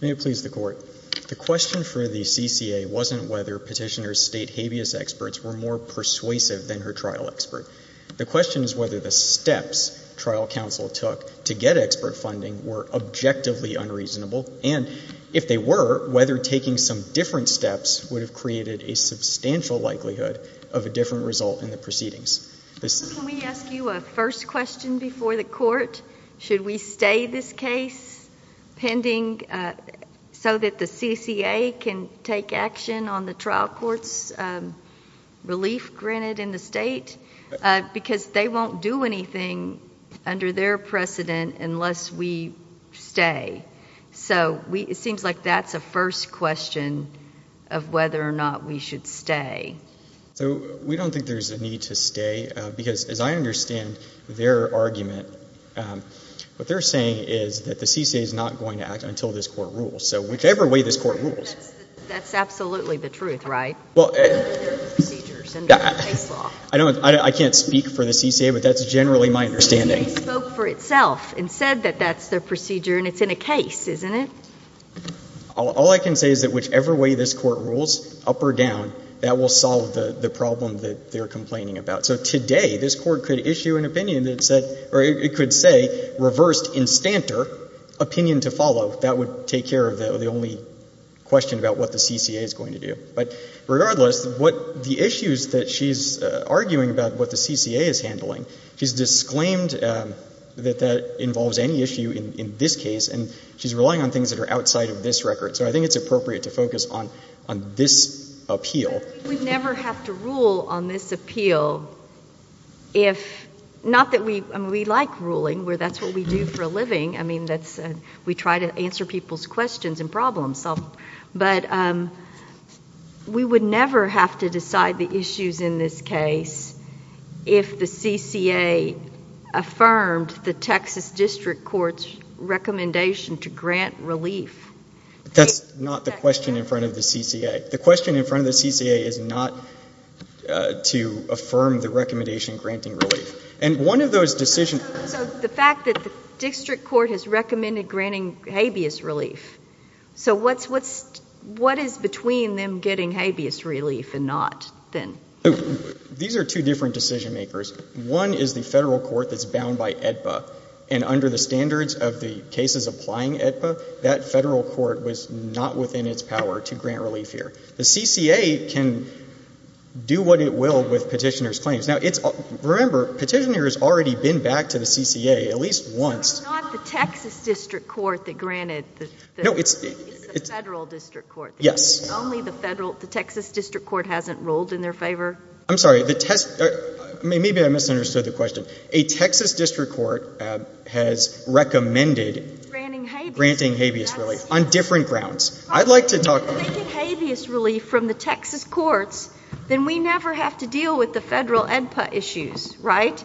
May it please the Court. The question for the CCA wasn't whether Petitioner's state habeas experts were more persuasive than her trial expert. The question is whether the steps trial counsel took to get expert funding were objectively unreasonable, and if they were, whether taking some different steps would have created a substantial likelihood of a different result in the proceedings. Can we ask you a first question before the Court? Should we stay this case pending so that the CCA can take action on the trial court's relief granted in the state? Because they won't do anything under their precedent unless we stay. So it seems like that's a first question of whether or not we should stay. So we don't think there's a need to stay, because as I understand their argument, what they're saying is that the CCA is not going to act until this Court rules. So whichever way this Court rules. That's absolutely the truth, right? Well, I don't, I can't speak for the CCA, but that's generally my understanding. The CCA spoke for itself and said that that's their procedure, and it's in a case, isn't it? All I can say is that whichever way this Court rules, up or down, that will solve the problem that they're complaining about. So today, this Court could issue an opinion that said or it could say, reversed, in stanter, opinion to follow. That would take care of the only question about what the CCA is going to do. But regardless, what the issues that she's arguing about what the CCA is handling, she's disclaimed that that involves any issue in this case, and she's relying on things that are outside of this record. So I think it's appropriate to focus on this appeal. We'd never have to rule on this appeal if, not that we, I mean, we like ruling, where that's what we do for a living. I mean, that's, we try to answer people's questions and problem solve, but we would never have to decide the issues in this case if the CCA affirmed the relief. That's not the question in front of the CCA. The question in front of the CCA is not to affirm the recommendation granting relief. And one of those decisions So, the fact that the district court has recommended granting habeas relief. So what's, what's, what is between them getting habeas relief and not, then? These are two different decision makers. One is the federal court that's bound by AEDPA, and under the standards of the cases applying AEDPA, that federal court was not within its power to grant relief here. The CCA can do what it will with petitioner's claims. Now, it's, remember, petitioner's already been back to the CCA at least once. It's not the Texas district court that granted the, it's the federal district court. Yes. Only the federal, the Texas district court hasn't ruled in their favor? I'm sorry, the test, maybe I misunderstood the question. A Texas district court has recommended granting habeas relief on different grounds. I'd like to talk If they get habeas relief from the Texas courts, then we never have to deal with the federal AEDPA issues, right?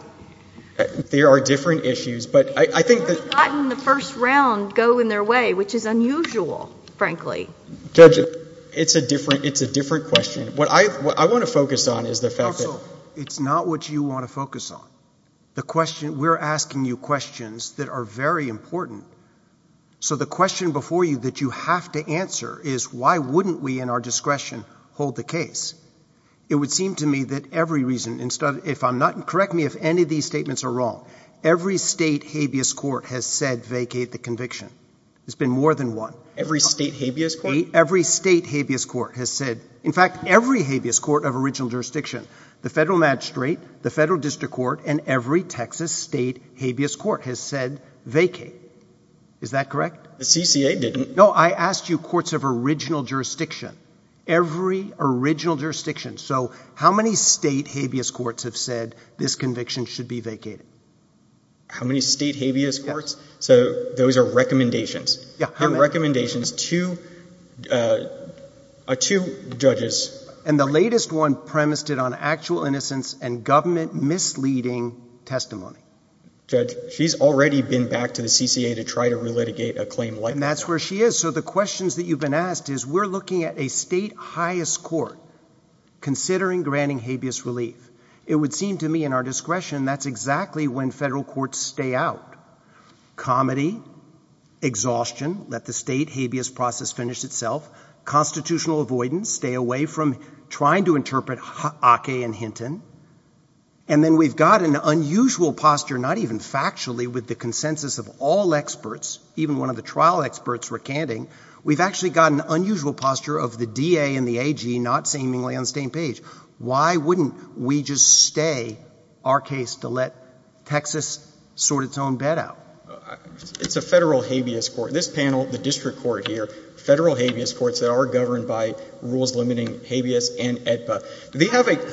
There are different issues, but I think that They've gotten the first round going their way, which is unusual, frankly. Judge, it's a different, it's a different question. What I want to focus on is the fact that It's not what you want to focus on. The question, we're asking you questions that are very important. So the question before you that you have to answer is why wouldn't we, in our discretion, hold the case? It would seem to me that every reason, instead of, if I'm not, correct me if any of these statements are wrong, every state habeas court has said vacate the conviction. There's been more than one. Every state habeas court? Every state habeas court has said, in fact, every habeas court of original jurisdiction, the federal magistrate, the federal district court, and every Texas state habeas court has said vacate. Is that correct? The CCA didn't. No, I asked you courts of original jurisdiction, every original jurisdiction. So how many state habeas courts have said this conviction should be vacated? How many state habeas courts? So those are recommendations. Yeah. Recommendations to two judges. And the latest one premised it on actual innocence and government misleading testimony. Judge, she's already been back to the CCA to try to relitigate a claim like that. That's where she is. So the questions that you've been asked is we're looking at a state highest court considering granting habeas relief. It would seem to me, in our discretion, that's exactly when federal courts stay out. Comedy, exhaustion, let the state habeas process finish itself. Constitutional avoidance, stay away from trying to interpret Ake and Hinton. And then we've got an unusual posture, not even factually, with the consensus of all experts, even one of the trial experts recanting, we've actually got an unusual posture of the DA and to let Texas sort its own bet out. It's a federal habeas court. This panel, the district court here, federal habeas courts that are governed by rules limiting habeas and AEDPA.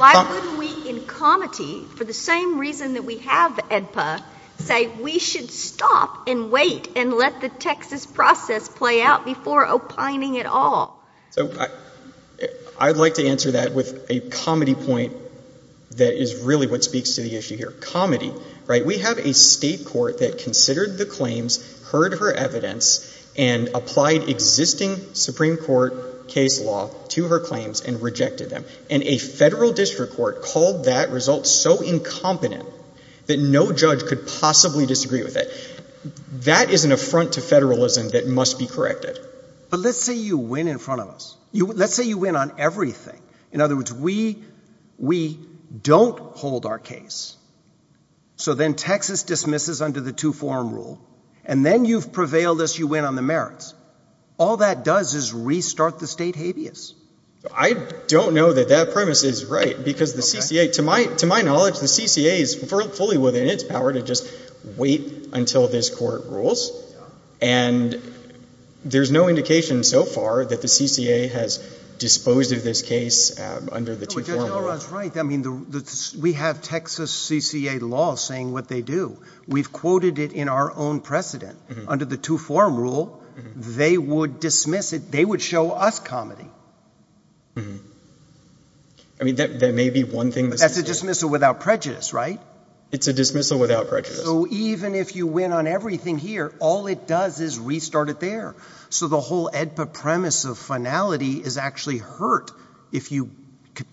Why wouldn't we, in comedy, for the same reason that we have AEDPA, say we should stop and wait and let the Texas process play out before opining at all? So I'd like to answer that with a comedy point that is really what speaks to the issue here. Comedy, right? We have a state court that considered the claims, heard her evidence, and applied existing Supreme Court case law to her claims and rejected them. And a federal district court called that result so incompetent that no judge could possibly disagree with it. That is an affront to federalism that must be corrected. But let's say you win in front of us. Let's say you win on everything. In other words, we don't hold our case. So then Texas dismisses under the two-form rule, and then you've prevailed as you win on the merits. All that does is restart the state habeas. I don't know that that premise is right because the CCA, to my knowledge, the CCA is fully within its power to just wait until this court rules. And there's no indication so far that the CCA has disposed of this case under the two-form rule. Judge O'Rourke is right. I mean, we have Texas CCA law saying what they do. We've quoted it in our own precedent. Under the two-form rule, they would dismiss it. They would show us comedy. I mean, that may be one thing. That's a dismissal without prejudice, right? It's a dismissal without prejudice. So even if you win on everything here, all it does is restart it there. So the whole EDPA premise of finality is actually hurt if you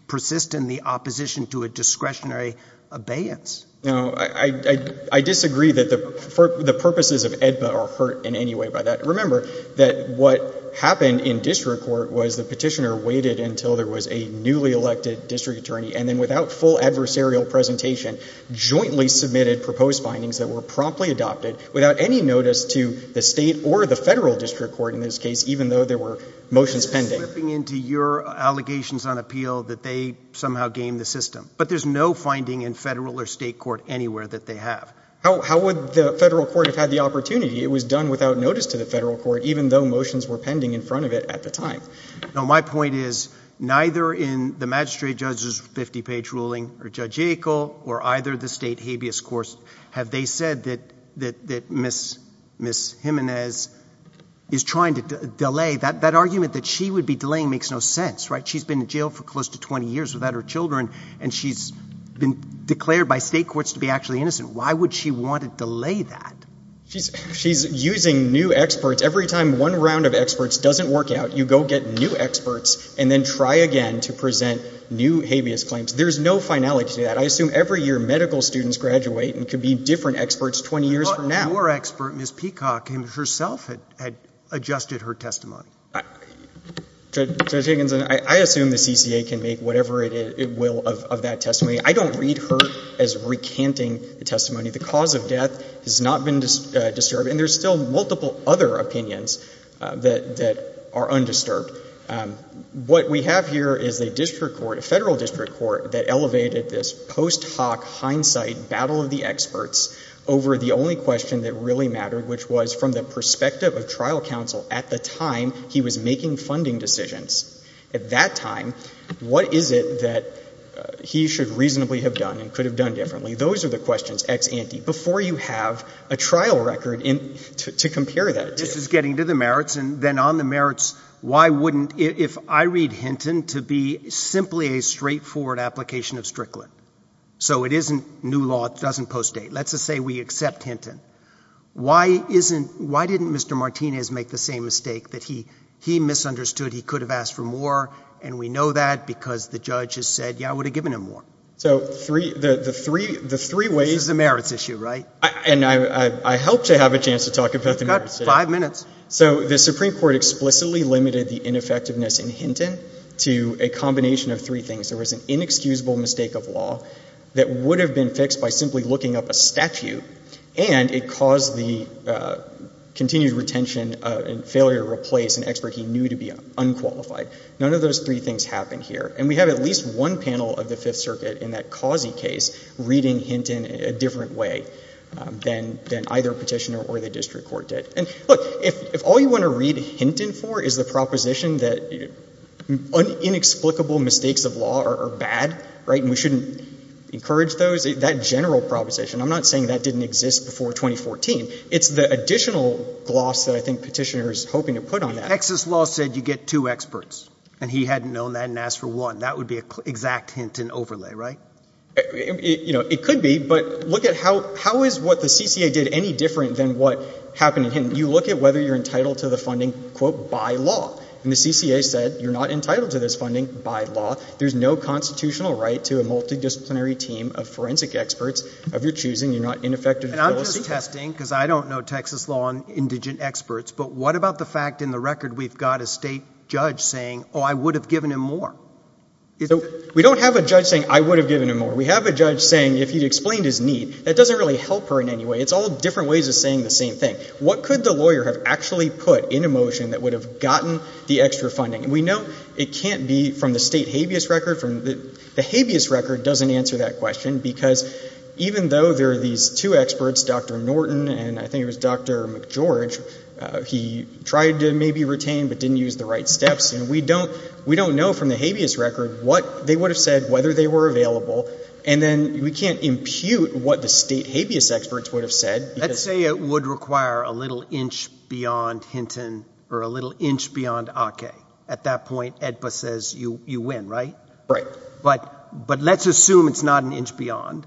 persist in the opposition to a discretionary abeyance. No, I disagree that the purposes of EDPA are hurt in any way by that. Remember that what happened in district court was the petitioner waited until there was a newly elected district attorney, and then without full adversarial presentation, jointly submitted proposed findings that were promptly adopted without any notice to the state or the federal district court in this case, even though there were motions pending. I'm slipping into your allegations on appeal that they somehow game the system. But there's no finding in federal or state court anywhere that they have. How would the federal court have had the opportunity? It was done without notice to the federal court, even though motions were pending in front of it at the time. Now, my point is neither in the magistrate judge's 50-page ruling or Judge Yackel or either the state habeas course have they said that Ms. Jimenez is trying to delay. That argument that she would be delaying makes no sense, right? She's been in jail for close to 20 years without her children, and she's been declared by state courts to be actually innocent. Why would she want to delay that? She's using new experts. Every time one round of experts doesn't work out, you go get new experts and then try again to present new habeas claims. There's no finality to that. I assume every year medical students graduate and could be different experts 20 years from now. Your expert, Ms. Peacock, herself had adjusted her testimony. Judge Higginson, I assume the CCA can make whatever it will of that testimony. I don't read her as recanting the testimony. The cause of death has not been disturbed, and there's still multiple other opinions that are undisturbed. What we have here is a district court, a federal district court that elevated this post hoc hindsight battle of the experts over the only question that really mattered, which was from the perspective of trial counsel at the time he was making funding decisions. At that time, what is it that he should reasonably have done and could have done differently? Those are the questions, ex ante, before you have a trial record to compare that to. This is getting to the merits, and then on the merits, why wouldn't, if I read Hinton, to be simply a straightforward application of Strickland? So it isn't new law, it doesn't postdate. Let's just say we accept Hinton. Why didn't Mr. Martinez make the same mistake that he misunderstood he could have asked for more, and we know that because the judge has said, yeah, I would have given him more? So the three ways— This is a merits issue, right? And I hope to have a chance to talk about the merits. You've got five minutes. So the Supreme Court explicitly limited the ineffectiveness in Hinton to a combination of three things. There was an inexcusable mistake of law that would have been fixed by simply looking up a statute, and it caused the continued retention and failure to replace an expert he knew to be unqualified. None of those three things happened here. And we have at least one panel of the Fifth Circuit in that Causey case reading Hinton a different way than either Petitioner or the district court did. And look, if all you want to read Hinton for is the proposition that inexplicable mistakes of law are bad, right, and we shouldn't encourage those, that general proposition, I'm not saying that didn't exist before 2014. It's the additional gloss that I think Petitioner is hoping to put on that. Texas law said you get two experts, and he hadn't known that and asked for one. That would be an exact Hinton overlay, right? It could be, but look at how is what the CCA did any different than what happened in Hinton? You look at whether you're entitled to the funding, quote, by law. And the CCA said you're not entitled to this funding by law. There's no constitutional right to a multidisciplinary team of forensic experts of your choosing. You're not ineffective in policy. And I'm just testing, because I don't know Texas law on indigent experts, but what about the fact in the record we've got a state judge saying, oh, I would have given him more? We don't have a judge saying, I would have given him more. We have a judge saying if he explained his need, that doesn't really help her in any way. It's all different ways of saying the same thing. What could the lawyer have actually put in a motion that would have gotten the extra funding? And we know it can't be from the state habeas record. The habeas record doesn't answer that question, because even though there are these two experts, Dr. maybe retained but didn't use the right steps. And we don't know from the habeas record what they would have said, whether they were available. And then we can't impute what the state habeas experts would have said. Let's say it would require a little inch beyond Hinton or a little inch beyond Ake. At that point, AEDPA says you win, right? Right. But let's assume it's not an inch beyond.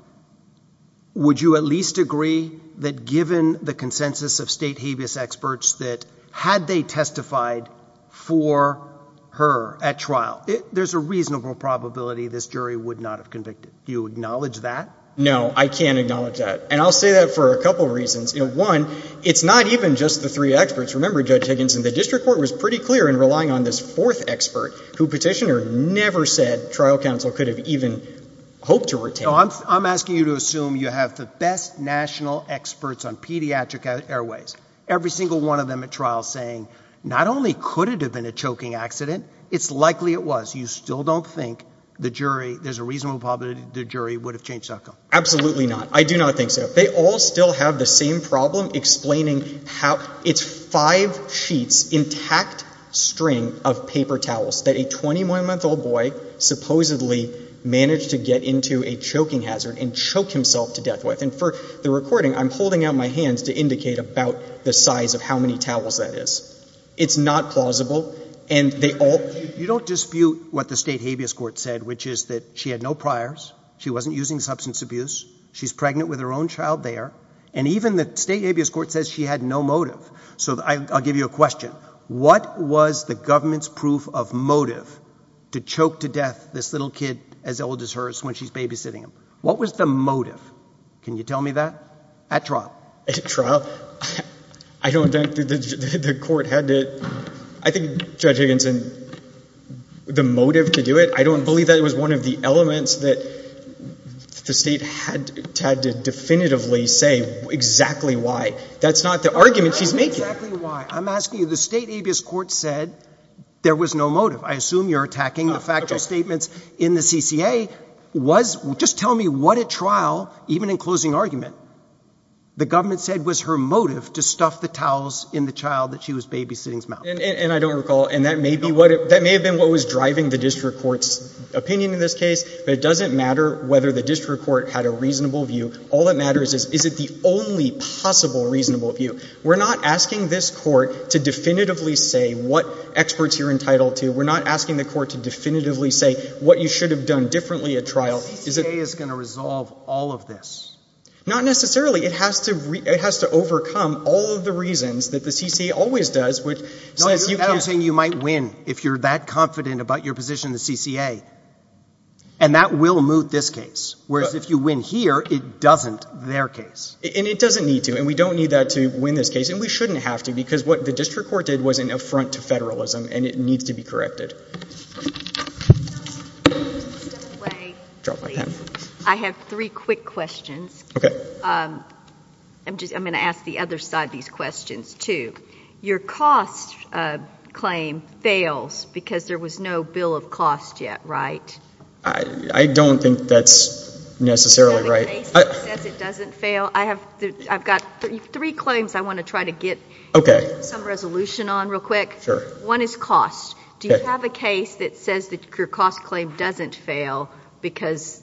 Would you at least agree that given the consensus of state habeas experts that had they testified for her at trial, there's a reasonable probability this jury would not have convicted? Do you acknowledge that? No, I can't acknowledge that. And I'll say that for a couple of reasons. One, it's not even just the three experts. Remember, Judge Higginson, the district court was pretty clear in relying on this fourth expert, who petitioner never said trial counsel could have even hoped to retain. I'm asking you to assume you have the best national experts on pediatric airways, every single one of them at trial saying not only could it have been a choking accident, it's likely it was. You still don't think the jury, there's a reasonable probability the jury would have changed outcome? Absolutely not. I do not think so. They all still have the same problem explaining how it's five sheets, intact string of paper towels that a 21 month old boy supposedly managed to get into a choking hazard and choke himself to the recording. I'm holding out my hands to indicate about the size of how many towels that is. It's not plausible. You don't dispute what the state habeas court said, which is that she had no priors. She wasn't using substance abuse. She's pregnant with her own child there. And even the state habeas court says she had no motive. So I'll give you a question. What was the government's proof of motive to choke to death this little kid as old as hers when she's babysitting him? What was the motive? Can you tell me that at trial trial? I don't think the court had to, I think judge Higginson, the motive to do it. I don't believe that it was one of the elements that the state had had to definitively say exactly why that's not the argument she's making. I'm asking you the state habeas court said there was no motive. I assume you're attacking the statements in the CCA was just tell me what at trial, even in closing argument, the government said was her motive to stuff the towels in the child that she was babysitting. And I don't recall. And that may be what it, that may have been what was driving the district courts opinion in this case, but it doesn't matter whether the district court had a reasonable view. All that matters is, is it the only possible reasonable view? We're not asking this court to definitively say what experts you're entitled to. We're not asking the court to definitively say what you should have done differently at trial. Is it going to resolve all of this? Not necessarily. It has to re it has to overcome all of the reasons that the CC always does, which says you might win if you're that confident about your position, the CCA, and that will move this case. Whereas if you win here, it doesn't their case and it doesn't need to. And we don't need that to win this case. And we shouldn't have to, because what the district court did was an affront to federalism and it needs to be corrected. I have three quick questions. Okay. I'm just, I'm going to ask the other side of these questions too. Your cost claim fails because there was no bill of cost yet, right? I don't think that's necessarily right. It doesn't fail. I have, I've got three claims. I want to try to get some resolution on real quick. Sure. One is cost. Do you have a case that says that your cost claim doesn't fail because,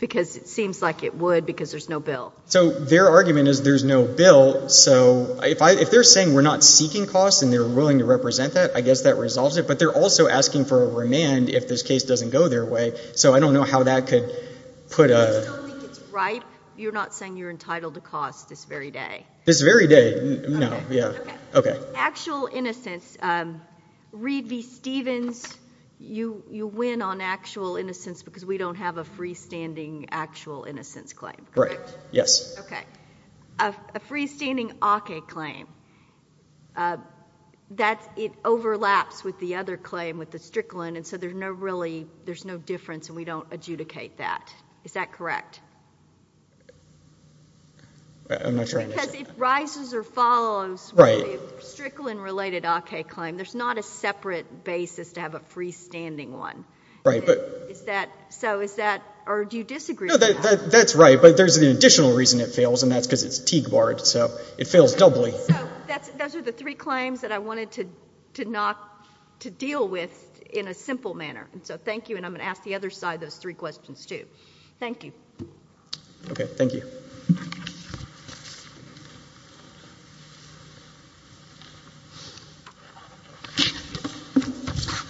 because it seems like it would, because there's no bill. So their argument is there's no bill. So if I, if they're saying, we're not seeking costs and they're willing to represent that, I guess that resolves it. But they're also asking for a remand if this case doesn't go their way. So I don't know how that could put a... You don't think it's right? You're not saying you're entitled to cost this very day? This very day? No. Yeah. Okay. Actual innocence, um, Reed v. Stevens, you, you win on actual innocence because we don't have a freestanding actual innocence claim, correct? Right. Yes. Okay. A freestanding Ake claim, uh, that it overlaps with the other claim with the Strickland. And so there's no really, there's no difference and we don't adjudicate that. Is that correct? I'm not sure I understand that. Because if rises or follows with a Strickland related Ake claim, there's not a separate basis to have a freestanding one. Right, but... Is that, so is that, or do you disagree with that? No, that, that's right. But there's an additional reason it fails and that's because it's Teague Barred. So it fails doubly. So that's, those are the three manner. And so thank you. And I'm going to ask the other side, those three questions too. Thank you. Okay. Thank you.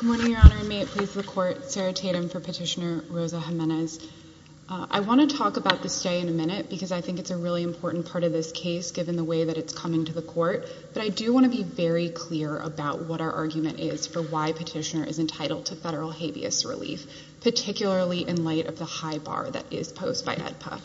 Good morning, Your Honor. And may it please the court, Sarah Tatum for Petitioner Rosa Jimenez. I want to talk about the stay in a minute because I think it's a really important part of this case, given the way that it's coming to the court. But I do want to be very clear about what our federal habeas relief, particularly in light of the high bar that is posed by EDPA.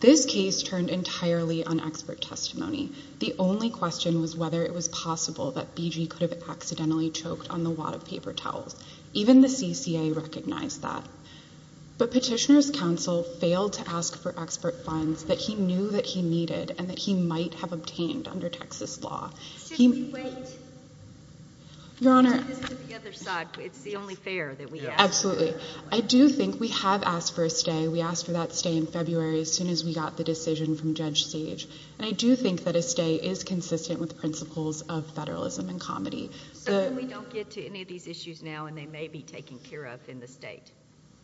This case turned entirely on expert testimony. The only question was whether it was possible that BG could have accidentally choked on the wad of paper towels. Even the CCA recognized that. But Petitioner's counsel failed to ask for expert funds that he knew that he needed and that he Absolutely. I do think we have asked for a stay. We asked for that stay in February, as soon as we got the decision from Judge Sage. And I do think that a stay is consistent with principles of federalism and comedy. So we don't get to any of these issues now and they may be taken care of in the state.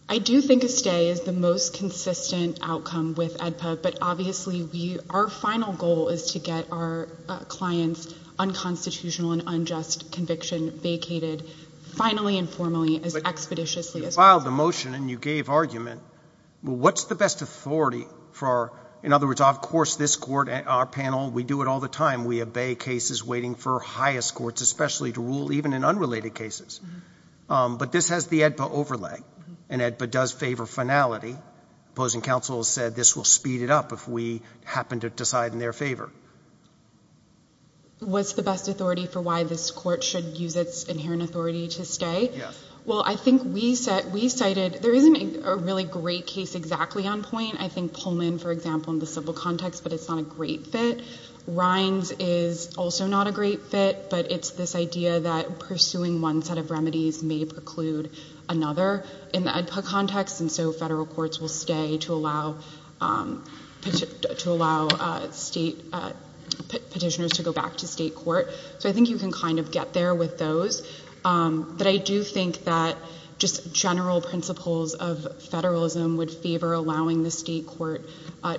I do think a stay is the most consistent outcome with EDPA, but obviously we, our final goal is to get our client's unconstitutional and unjust conviction vacated finally and formally, as expeditiously as possible. But you filed a motion and you gave argument. What's the best authority for our, in other words, of course this court and our panel, we do it all the time. We obey cases waiting for highest courts, especially to rule even in unrelated cases. But this has the EDPA overlay and EDPA does favor finality. Opposing counsel said this will speed it up if we happen to decide in their favor. Yeah. What's the best authority for why this court should use its inherent authority to stay? Yes. Well, I think we said, we cited, there isn't a really great case exactly on point. I think Pullman, for example, in the civil context, but it's not a great fit. Rines is also not a great fit, but it's this idea that pursuing one set of remedies may preclude another in the EDPA context. And so federal courts will stay to allow state petitioners to go back to state court. So I think you can kind of get there with those. But I do think that just general principles of federalism would favor allowing the state court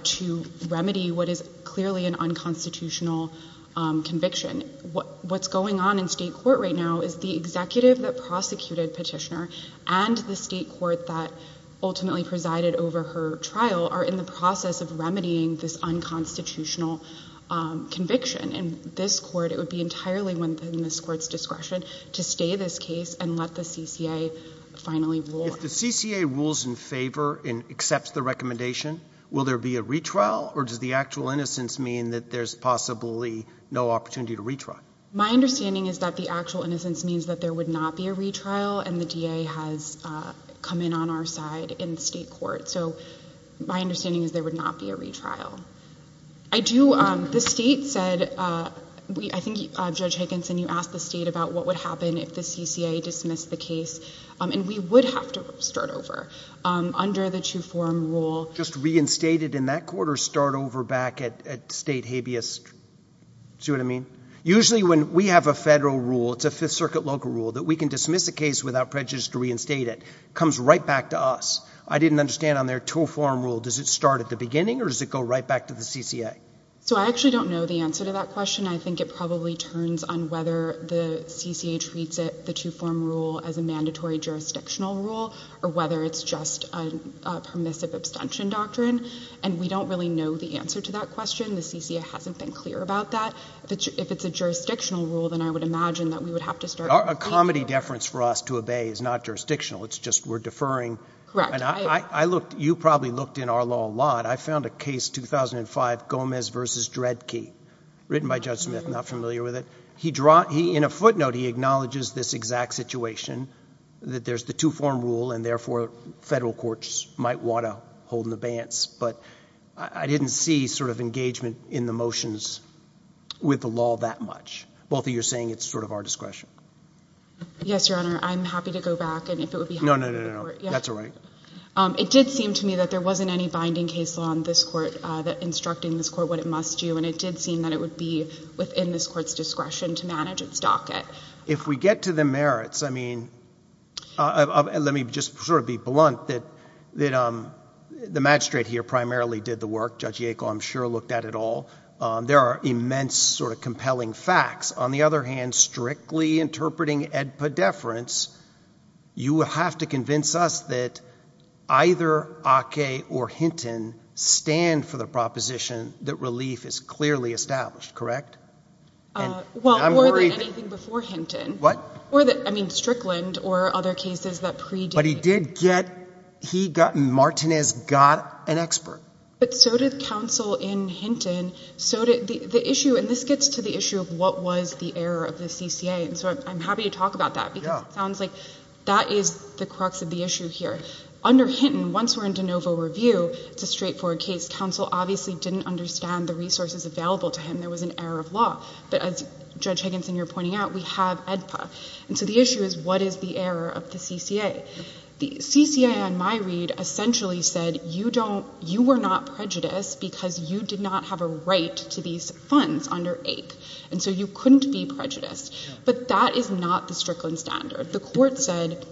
to remedy what is clearly an unconstitutional conviction. What's going on in state court right now is the executive that prosecuted petitioner and the state court that ultimately presided over her trial are in the process of remedying this unconstitutional conviction. And this court, it would be entirely within this court's discretion to stay this case and let the CCA finally rule. If the CCA rules in favor and accepts the recommendation, will there be a retrial or does the actual innocence mean that there's possibly no opportunity to retry? My understanding is that the actual innocence means that there would not be a retrial and the come in on our side in state court. So my understanding is there would not be a retrial. The state said, I think Judge Higginson, you asked the state about what would happen if the CCA dismissed the case. And we would have to start over under the two-form rule. Just reinstated in that court or start over back at state habeas? Do you know what I mean? Usually when we have a federal rule, it's a Fifth Circuit local rule that we can dismiss a case without prejudice to reinstate it. It comes right back to us. I didn't understand on their two-form rule, does it start at the beginning or does it go right back to the CCA? So I actually don't know the answer to that question. I think it probably turns on whether the CCA treats it, the two-form rule, as a mandatory jurisdictional rule or whether it's just a permissive abstention doctrine. And we don't really know the answer to that question. The CCA hasn't been clear about that. If it's a jurisdictional rule, then I would imagine that we would have to start- A comedy deference for us to obey is not jurisdictional. It's just we're deferring- Correct. You probably looked in our law a lot. I found a case, 2005, Gomez v. Dredke, written by Judge Smith, not familiar with it. In a footnote, he acknowledges this exact situation, that there's the two-form rule and therefore federal courts might want to hold an abeyance. But I didn't see sort of engagement in the motions with the law that much. Both of you saying it's sort of our discretion. Yes, Your Honor. I'm happy to go back and if it would be- No, no, no, no, no. That's all right. It did seem to me that there wasn't any binding case law on this court that instructed this court what it must do. And it did seem that it would be within this court's discretion to manage its docket. If we get to the merits, I mean, let me just sort of be blunt that the magistrate here primarily did the work. Judge Yackel, I'm sure, looked at it all. There are immense sort of compelling facts. On the other hand, strictly interpreting edpa deference, you have to convince us that either Ake or Hinton stand for the proposition that relief is clearly established, correct? Well, more than anything before Hinton. What? More than, I mean, Strickland or other cases that predate- But he did get, he got, Martinez got an expert. But so did counsel in Hinton, so did the issue, and this gets to the issue of what was the error of the CCA. And so I'm happy to talk about that because it sounds like that is the crux of the issue here. Under Hinton, once we're in de novo review, it's a straightforward case. Counsel obviously didn't understand the resources available to him. There was an error of law. But as Judge Higginson, you're pointing out, we have edpa. And so the issue is what is the error of the CCA? The CCA on my read essentially said, you don't, you were not prejudiced because you did not have a right to these funds under Ake. And so you couldn't be prejudiced. But that is not the Strickland standard. The court said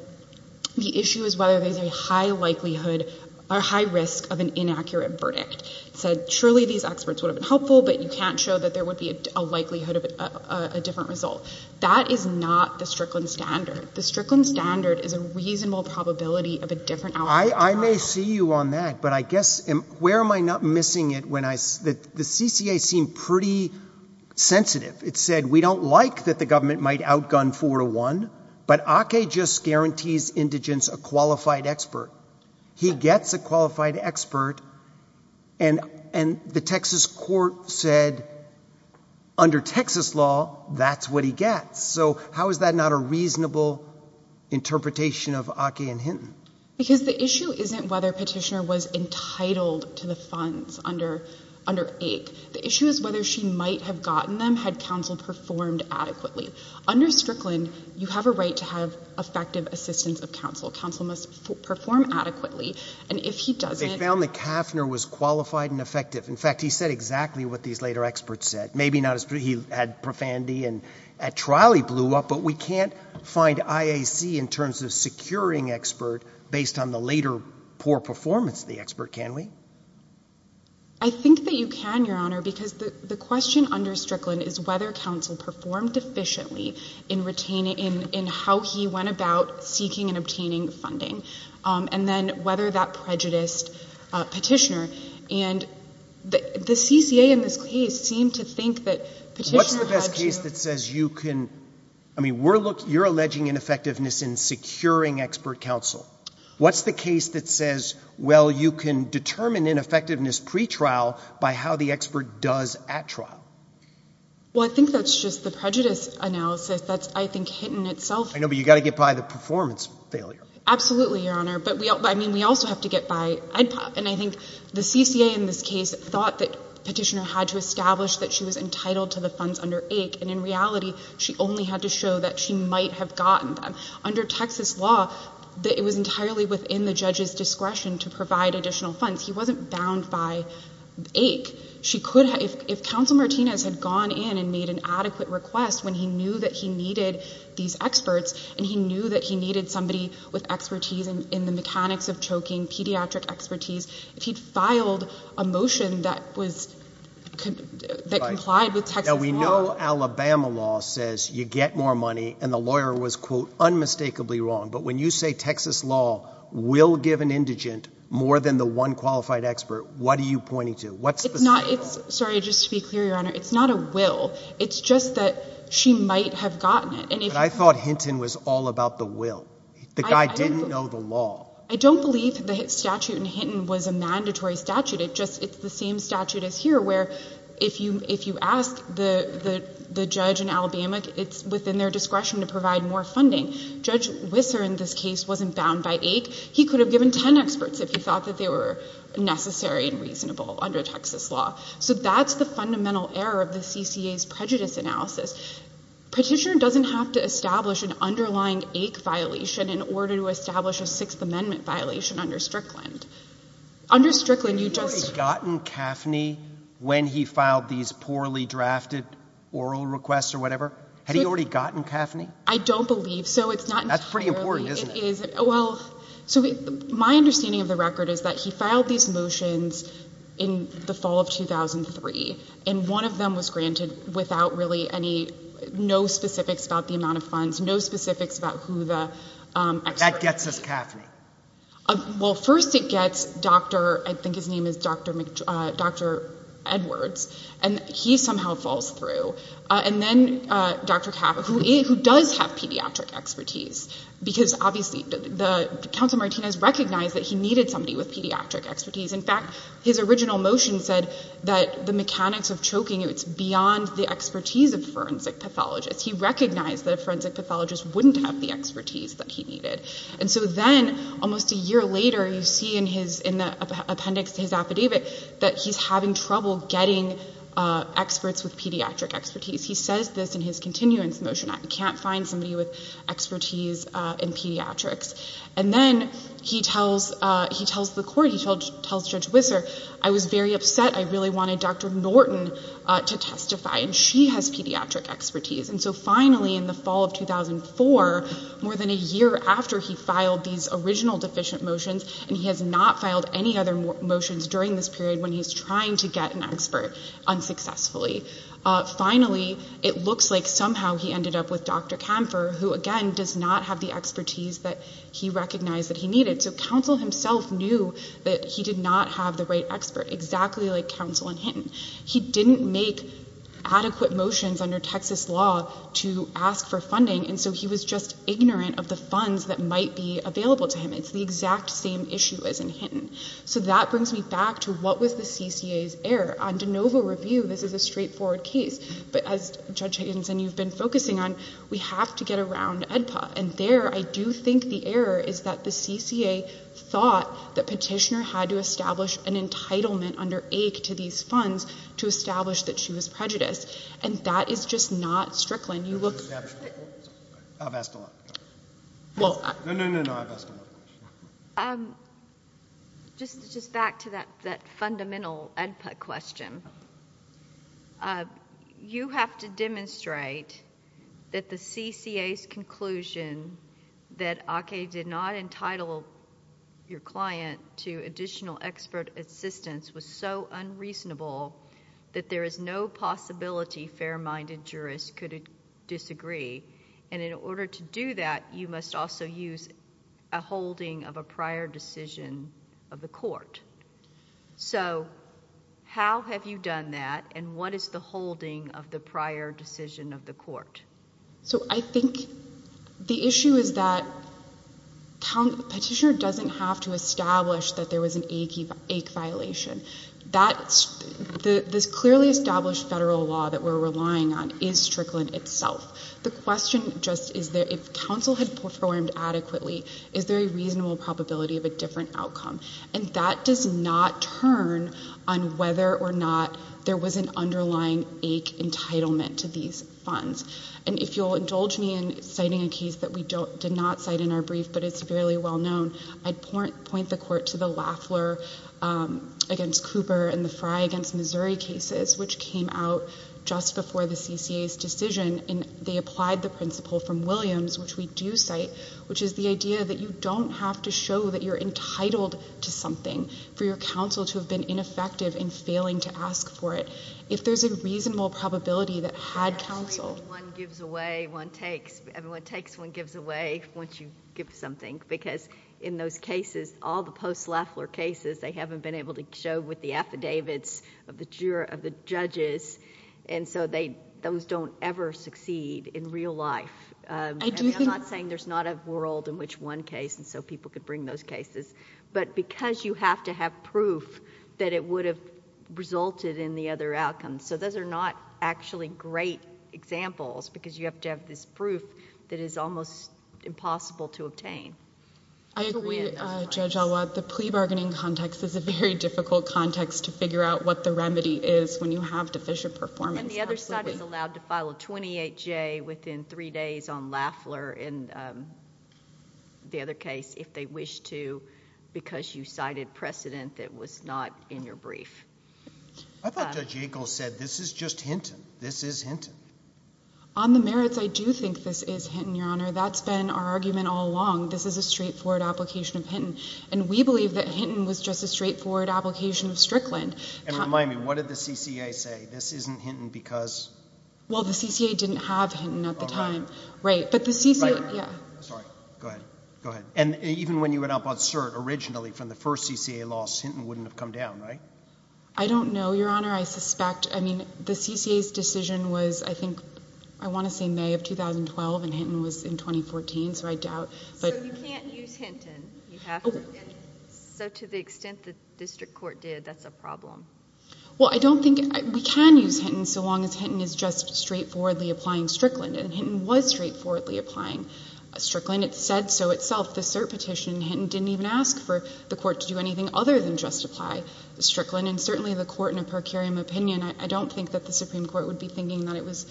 the issue is whether there's a high likelihood or high risk of an inaccurate verdict. It said, surely these experts would have been helpful, but you can't show that there would be a likelihood of a different result. That is not the Strickland standard. The Strickland standard is a reasonable probability of a different outcome. I may see you on that, but I guess, where am I not missing it when I, the CCA seemed pretty sensitive. It said, we don't like that the government might outgun 4 to 1, but Ake just guarantees indigents a qualified expert. He gets a qualified expert and the Texas court said under Texas law, that's what he gets. So how is that not a reasonable interpretation of Ake and Hinton? Because the issue isn't whether petitioner was entitled to the funds under Ake. The issue is whether she might have gotten them had counsel performed adequately. Under Strickland, you have a right to have effective assistance of counsel. Counsel must perform adequately. And if he doesn't. They found that Kaffner was qualified and effective. In fact, he said exactly what these later experts said. Maybe he had profanity and at trial he blew up, but we can't find IAC in terms of securing expert based on the later poor performance of the expert, can we? I think that you can, Your Honor, because the question under Strickland is whether counsel performed efficiently in retaining, in how he went about seeking and the CCA in this case seemed to think that petitioner had to. What's the best case that says you can, I mean, you're alleging ineffectiveness in securing expert counsel. What's the case that says, well, you can determine ineffectiveness pre-trial by how the expert does at trial? Well, I think that's just the prejudice analysis that's, I think, Hinton itself. I know, but you got to get by the performance failure. Absolutely, Your Honor, but I mean, we also have to get by EDPA and I think the CCA in this case thought that petitioner had to establish that she was entitled to the funds under AIC and in reality, she only had to show that she might have gotten them. Under Texas law, it was entirely within the judge's discretion to provide additional funds. He wasn't bound by AIC. If counsel Martinez had gone in and made an adequate request when he knew that he needed these experts and he knew that he needed somebody with expertise in the mechanics of choking, pediatric expertise, if he'd filed a motion that was, that complied with Texas law. Now, we know Alabama law says you get more money and the lawyer was, quote, unmistakably wrong. But when you say Texas law will give an indigent more than the one qualified expert, what are you pointing to? What's the scenario? It's not, it's, sorry, just to be clear, Your Honor, it's not a will. It's just that she might have gotten it. But I thought Hinton was all about the will. The guy didn't know the law. I don't believe the statute in Hinton was a mandatory statute. It's just, it's the same statute as here where if you ask the judge in Alabama, it's within their discretion to provide more funding. Judge Wisser in this case wasn't bound by AIC. He could have given 10 experts if he thought that they were necessary and reasonable under Texas law. So that's the fundamental error of the CCA's prejudice analysis. Petitioner doesn't have to establish an in order to establish a Sixth Amendment violation under Strickland. Under Strickland, you just... Had he already gotten CAFNI when he filed these poorly drafted oral requests or whatever? Had he already gotten CAFNI? I don't believe so. It's not... That's pretty important, isn't it? Well, so my understanding of the record is that he filed these motions in the fall of 2003 and one of them was granted without really any, no specifics about the amount of funds, no specifics about who the experts were. That gets us CAFNI. Well, first it gets Dr., I think his name is Dr. Edwards, and he somehow falls through. And then Dr. CAFNI, who does have pediatric expertise because obviously the counsel Martinez recognized that he needed somebody with pediatric expertise. In fact, his original motion said that the mechanics of choking, it's beyond the expertise of forensic pathologists. He recognized that a forensic pathologist wouldn't have the expertise that he needed. And so then almost a year later, you see in the appendix to his affidavit that he's having trouble getting experts with pediatric expertise. He says this in his continuance motion, I can't find somebody with expertise in pediatrics. And then he tells Judge Wisser, I was very upset. I really wanted Dr. Norton to testify, and she has pediatric expertise. And so finally in the fall of 2004, more than a year after he filed these original deficient motions, and he has not filed any other motions during this period when he's trying to get an expert unsuccessfully. Finally, it looks like somehow he ended up with Dr. Camper, who again he did not have the right expert, exactly like counsel in Hinton. He didn't make adequate motions under Texas law to ask for funding, and so he was just ignorant of the funds that might be available to him. It's the exact same issue as in Hinton. So that brings me back to what was the CCA's error. On de novo review, this is a straightforward case. But as Judge Higginson, you've been focusing on, we have to get around EDPA. And there I do think the error is that the petitioner had to establish an entitlement under AIC to these funds to establish that she was prejudiced. And that is just not Strickland. You look... I've asked a lot. No, no, no, no, I've asked a lot. Just back to that fundamental EDPA question. You have to demonstrate that the CCA's conclusion that Ake did not entitle your client to additional expert assistance was so unreasonable that there is no possibility fair-minded jurists could disagree. And in order to do that, you must also use a holding of a prior decision of the court. So how have you done that, and what is holding of the prior decision of the court? So I think the issue is that petitioner doesn't have to establish that there was an Ake violation. This clearly established federal law that we're relying on is Strickland itself. The question just is, if counsel had performed adequately, is there a reasonable probability of a different outcome? And that does not turn on whether or not there was an underlying Ake entitlement to these funds. And if you'll indulge me in citing a case that we did not cite in our brief, but it's fairly well known, I'd point the court to the Lafleur against Cooper and the Frye against Missouri cases, which came out just before the CCA's decision. And they applied the principle from Williams, which we do cite, which is the idea that you don't have to show that you're entitled to something for your counsel to have been effective in failing to ask for it. If there's a reasonable probability that had counsel... I think one gives away, one takes. Everyone takes, one gives away once you give something, because in those cases, all the post-Lafleur cases, they haven't been able to show with the affidavits of the judges, and so those don't ever succeed in real life. I'm not saying there's not a world in which one case, and so people could bring those cases, but because you have to have that proof, that it would have resulted in the other outcome. So those are not actually great examples, because you have to have this proof that is almost impossible to obtain. I agree, Judge Alwatt. The plea bargaining context is a very difficult context to figure out what the remedy is when you have deficient performance. And the other side is allowed to file a 28-J within three days on Lafleur and the other case, if they wish to, because you cited precedent that was not in your brief. I thought Judge Yackel said this is just Hinton. This is Hinton. On the merits, I do think this is Hinton, Your Honor. That's been our argument all along. This is a straightforward application of Hinton, and we believe that Hinton was just a straightforward application of Strickland. And remind me, what did the CCA say? This isn't Hinton because... Sorry. Go ahead. Go ahead. And even when you went up on cert originally, from the first CCA loss, Hinton wouldn't have come down, right? I don't know, Your Honor. I suspect... I mean, the CCA's decision was, I think, I want to say May of 2012, and Hinton was in 2014, so I doubt. So you can't use Hinton. You have to get Hinton. So to the extent the district court did, that's a problem. Well, I don't think... we can use Hinton, so long as Hinton is just straightforwardly applying Strickland, and Hinton was straightforwardly applying. Strickland, it said so itself. The cert petition, Hinton didn't even ask for the court to do anything other than justify Strickland, and certainly the court in a per curiam opinion, I don't think that the Supreme Court would be thinking that it was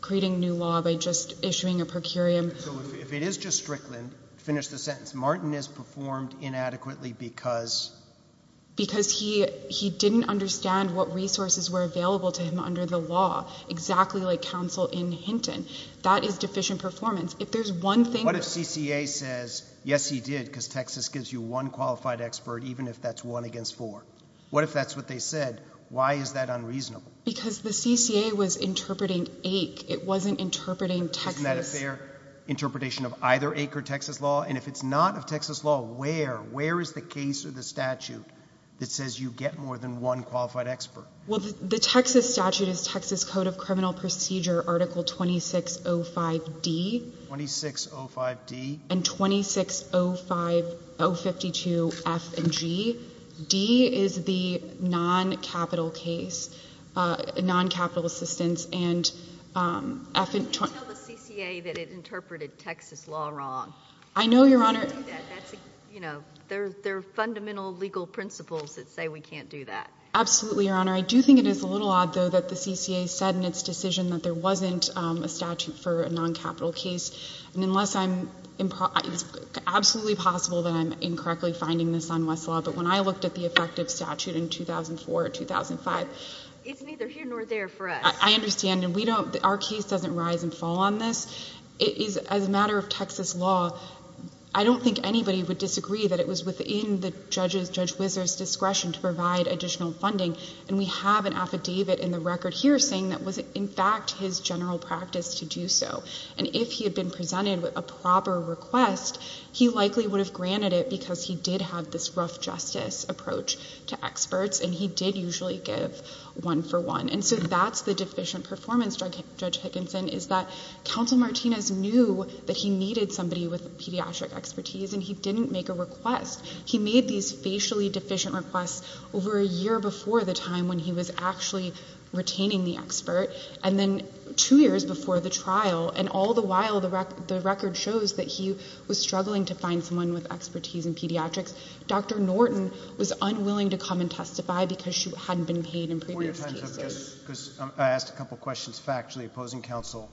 creating new law by just issuing a per curiam. So if it is just Strickland, finish the sentence, Martin has performed inadequately because... Because he didn't understand what resources were available to him under the law, exactly like counsel in Hinton. That is deficient performance. If there's one thing... What if CCA says, yes, he did, because Texas gives you one qualified expert, even if that's one against four? What if that's what they said? Why is that unreasonable? Because the CCA was interpreting AIC. It wasn't interpreting Texas... Isn't that a fair interpretation of either AIC or Texas law? And if it's not of Texas law, where? Where is the case or the statute that says you get more than one qualified expert? Well, the Texas statute is Texas Code of Criminal Procedure, Article 2605D... 2605D... And 2605... 052F and G. D is the non-capital case, non-capital assistance, and F and... Tell the CCA that it interpreted Texas law wrong. I know, Your Honor... You can't do that. That's a... You know, there are fundamental legal principles that say we can't do that. Absolutely, Your Honor. I do think it is a little odd, though, that the CCA said in its decision that there wasn't a statute for a non-capital case. And unless I'm... it's absolutely possible that I'm incorrectly finding this on Westlaw, but when I looked at the effective statute in 2004 or 2005... It's neither here nor there for us. I understand. And we don't... our case doesn't rise and fall on this. It is... as a matter of Texas law, I don't think anybody would disagree that it was within the judge's... Judge Whizzer's discretion to provide additional funding. And we have an general practice to do so. And if he had been presented with a proper request, he likely would have granted it because he did have this rough justice approach to experts, and he did usually give one for one. And so that's the deficient performance, Judge Hickinson, is that Counsel Martinez knew that he needed somebody with pediatric expertise, and he didn't make a request. He made these facially deficient requests over a year before the time when he was actually obtaining the expert, and then two years before the trial. And all the while, the record shows that he was struggling to find someone with expertise in pediatrics. Dr. Norton was unwilling to come and testify because she hadn't been paid in previous cases. Before you finish up, just... because I asked a couple of questions factually opposing counsel.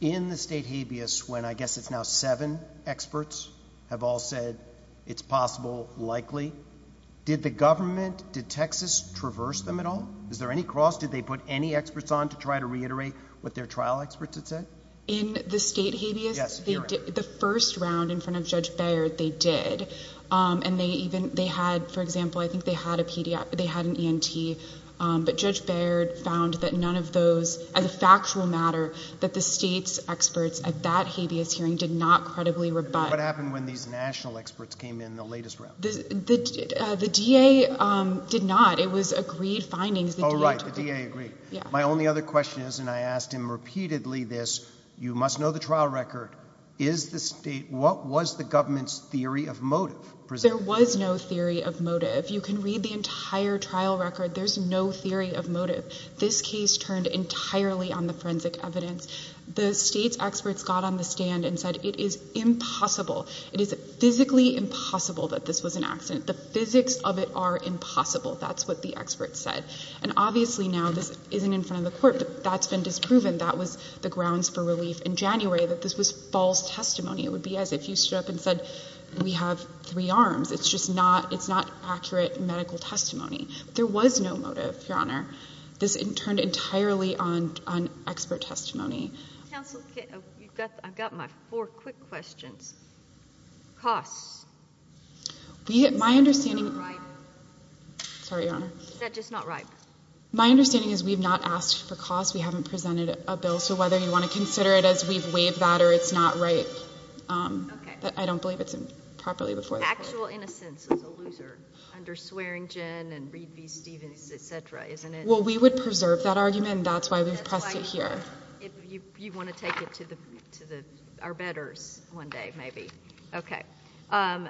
In the state habeas, when I guess it's now seven experts have all said it's possible, likely, did the government, did Texas traverse them at all? Is there any cross? Did they put any experts on to try to reiterate what their trial experts had said? In the state habeas, the first round in front of Judge Baird, they did. And they even, they had, for example, I think they had an ENT. But Judge Baird found that none of those, as a factual matter, that the state's experts at that habeas hearing did not credibly rebut. What happened when these national experts came in the latest round? The DA did not. It was agreed findings. Oh, right. The DA agreed. My only other question is, and I asked him repeatedly this, you must know the trial record. Is the state, what was the government's theory of motive? There was no theory of motive. You can read the entire trial record. There's no theory of motive. This case turned entirely on the forensic evidence. The state's experts got on the stand and said it is impossible, it is physically impossible that this was an accident. The physics of it are impossible. That's what the experts said. And obviously now this isn't in front of the court, but that's been disproven. That was the grounds for relief in January, that this was false testimony. It would be as if you stood up and said, we have three arms. It's just not, it's not accurate medical testimony. There was no motive, Your Honor. This turned entirely on expert testimony. Counsel, you've got, I've got my four quick questions. Costs. My understanding. Sorry, Your Honor. Is that just not right? My understanding is we've not asked for costs. We haven't presented a bill. So whether you want to consider it as we've waived that or it's not right, but I don't believe it's properly before the court. Actual innocence is a loser under Swearingen and Reed v. Stevens, et cetera, isn't it? Well, we would preserve that argument. That's why we've pressed it here. If you want to take it to the, to the, our bettors one day, maybe. Okay. And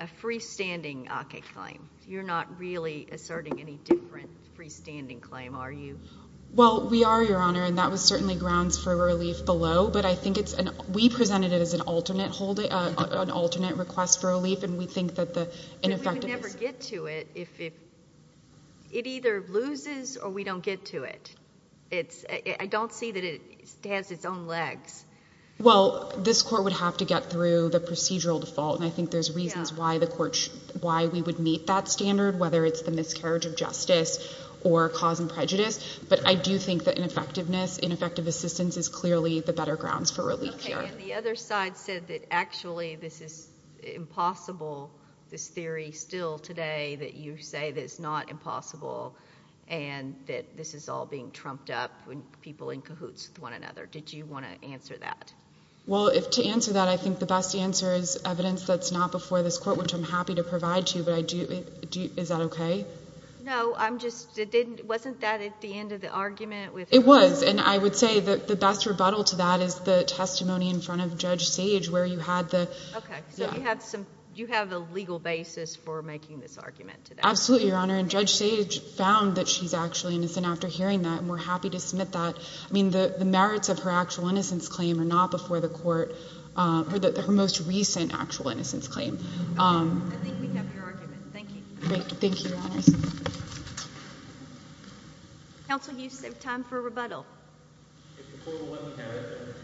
a freestanding ACA claim. You're not really asserting any different freestanding claim, are you? Well, we are, Your Honor. And that was certainly grounds for relief below, but I think it's an, we presented it as an alternate holding, an alternate request for relief. And we think that the ineffectiveness. I would never get to it if it, it either loses or we don't get to it. It's, I don't see that it has its own legs. Well, this court would have to get through the procedural default. And I think there's reasons why the court, why we would meet that standard, whether it's the miscarriage of justice or cause and prejudice. But I do think that ineffectiveness, ineffective assistance is clearly the better grounds for relief here. The other side said that actually this is impossible, this theory still today that you say that it's not impossible and that this is all being trumped up when people in cahoots with one another. Did you want to answer that? Well, if to answer that, I think the best answer is evidence that's not before this court, which I'm happy to provide to you, but I do, do you, is that okay? No, I'm just, it didn't, wasn't that at the end of the argument? It was, and I would say that the best rebuttal to that is the testimony in front of Judge Sage where you had the... Okay, so you have some, you have a legal basis for making this argument today. Absolutely, Your Honor. And Judge Sage found that she's actually innocent after hearing that, and we're happy to submit that. I mean, the merits of her actual innocence claim are not before the court, or her most recent actual innocence claim. Thank you, Your Honors. Counsel, you still have time for a rebuttal. If the court would let me have it, then...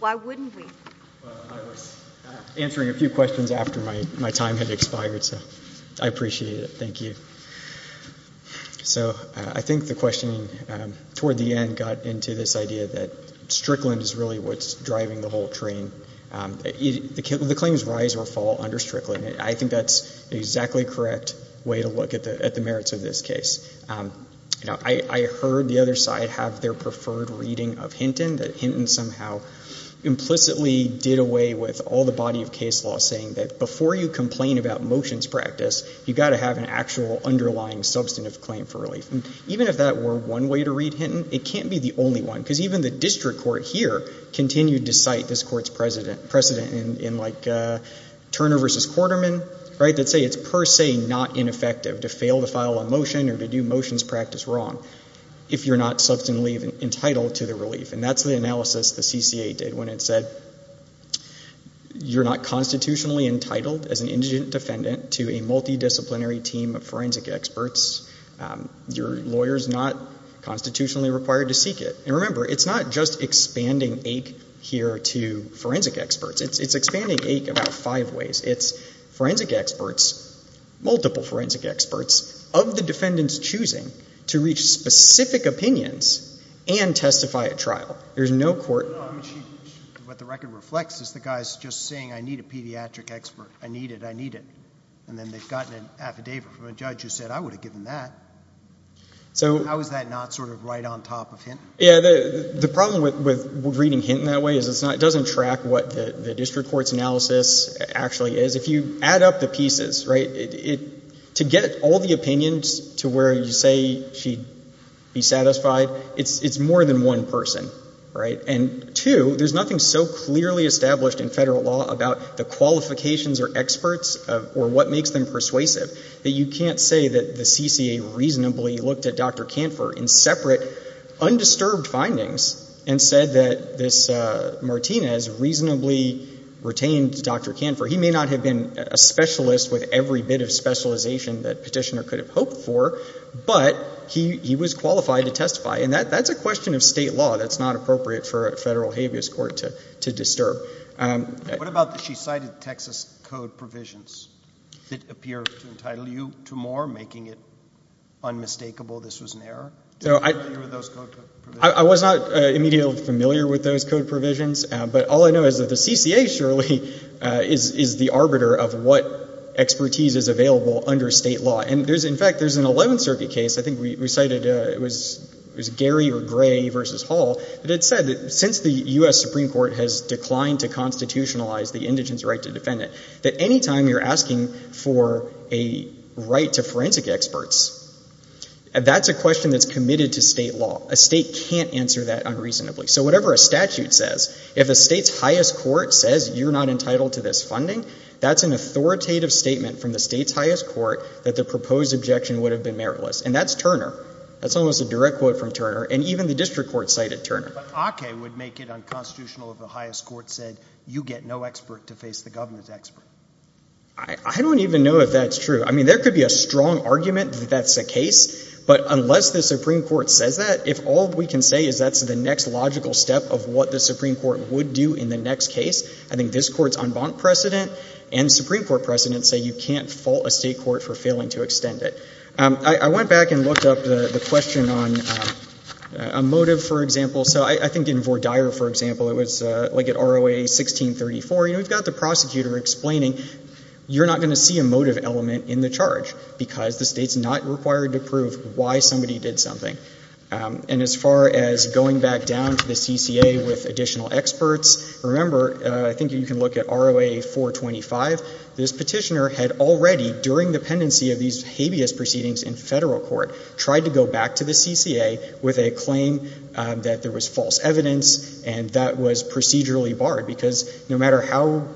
Why wouldn't we? Well, I was answering a few questions after my time had expired, so I appreciate it. Thank you. So I think the question toward the end got into this idea that Strickland is really what's driving the whole train. The claims rise or fall under Strickland. I think that's the exactly correct way to look at the merits of this case. I heard the other side have their preferred reading of Hinton, that Hinton somehow implicitly did away with all the body of case law saying that before you complain about motions practice, you've got to have an actual underlying substantive claim for relief. And even if that were one way to read Hinton, it can't be the only one, because even the district court here continued to Turner versus Quarterman that say it's per se not ineffective to fail to file a motion or to do motions practice wrong if you're not substantively entitled to the relief. And that's the analysis the CCA did when it said, you're not constitutionally entitled as an indigent defendant to a multidisciplinary team of forensic experts. Your lawyer's not constitutionally required to seek it. And remember, it's not just expanding AIC here to forensic experts. It's expanding AIC about five ways. It's forensic experts, multiple forensic experts of the defendant's choosing to reach specific opinions and testify at trial. There's no court... No, I mean, what the record reflects is the guys just saying, I need a pediatric expert. I need it. I need it. And then they've gotten an affidavit from a judge who said, I would have given that. How is that not sort of right on top of Hinton? Yeah, the problem with reading Hinton that way is it doesn't track what the district court's analysis actually is. If you add up the pieces, right, to get all the opinions to where you say she'd be satisfied, it's more than one person, right? And two, there's nothing so clearly established in federal law about the qualifications or experts or what makes them persuasive that you can't say that the CCA reasonably looked at Dr. Canfor's disturbed findings and said that this Martinez reasonably retained Dr. Canfor. He may not have been a specialist with every bit of specialization that petitioner could have hoped for, but he was qualified to testify. And that's a question of state law. That's not appropriate for a federal habeas court to disturb. What about the she cited Texas code provisions that appear to entitle you to more, making it unmistakable this was an error? I was not immediately familiar with those code provisions, but all I know is that the CCA surely is the arbiter of what expertise is available under state law. And in fact, there's an 11th Circuit case, I think we cited, it was Gary or Gray versus Hall, that it said that since the U.S. Supreme Court has declined to constitutionalize the indigent's right to defend it, that any time you're asking for a right to forensic experts, that's a question that's committed to state law. A state can't answer that unreasonably. So whatever a statute says, if a state's highest court says you're not entitled to this funding, that's an authoritative statement from the state's highest court that the proposed objection would have been meritless. And that's Turner. That's almost a direct quote from Turner. And even the district court cited Turner. But Ake would make it unconstitutional if the highest court said you get no expert to face the government's expert. I don't even know if that's true. I mean, there could be a strong argument that that's a case. But unless the Supreme Court says that, if all we can say is that's the next logical step of what the Supreme Court would do in the next case, I think this Court's en banc precedent and Supreme Court precedents say you can't fault a state court for failing to extend it. I went back and looked up the question on a motive, for example. So I think in Vordire, for example, it was like at ROA 1634, you know, we've got the prosecutor explaining you're not going to see a motive element in the charge because the state's not required to prove why somebody did something. And as far as going back down to the CCA with additional experts, remember, I think you can look at ROA 425. This petitioner had already, during the pendency of these habeas proceedings in federal court, tried to go back to the CCA with a claim that there was false evidence and that was procedurally barred. Because no matter how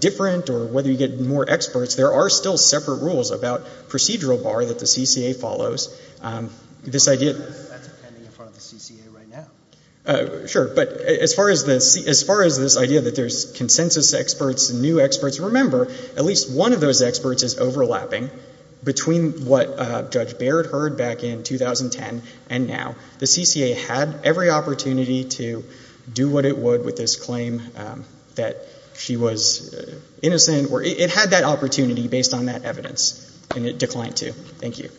different or whether you get more experts, there are still separate rules about procedural bar that the CCA follows. That's pending in front of the CCA right now. Sure. But as far as this idea that there's consensus experts and new experts, remember, at least one of those experts is overlapping between what Judge Baird heard back in 2010 and now. The CCA had every opportunity to do what it would with this claim that she was innocent. It had that opportunity based on that evidence and it declined to. Thank you.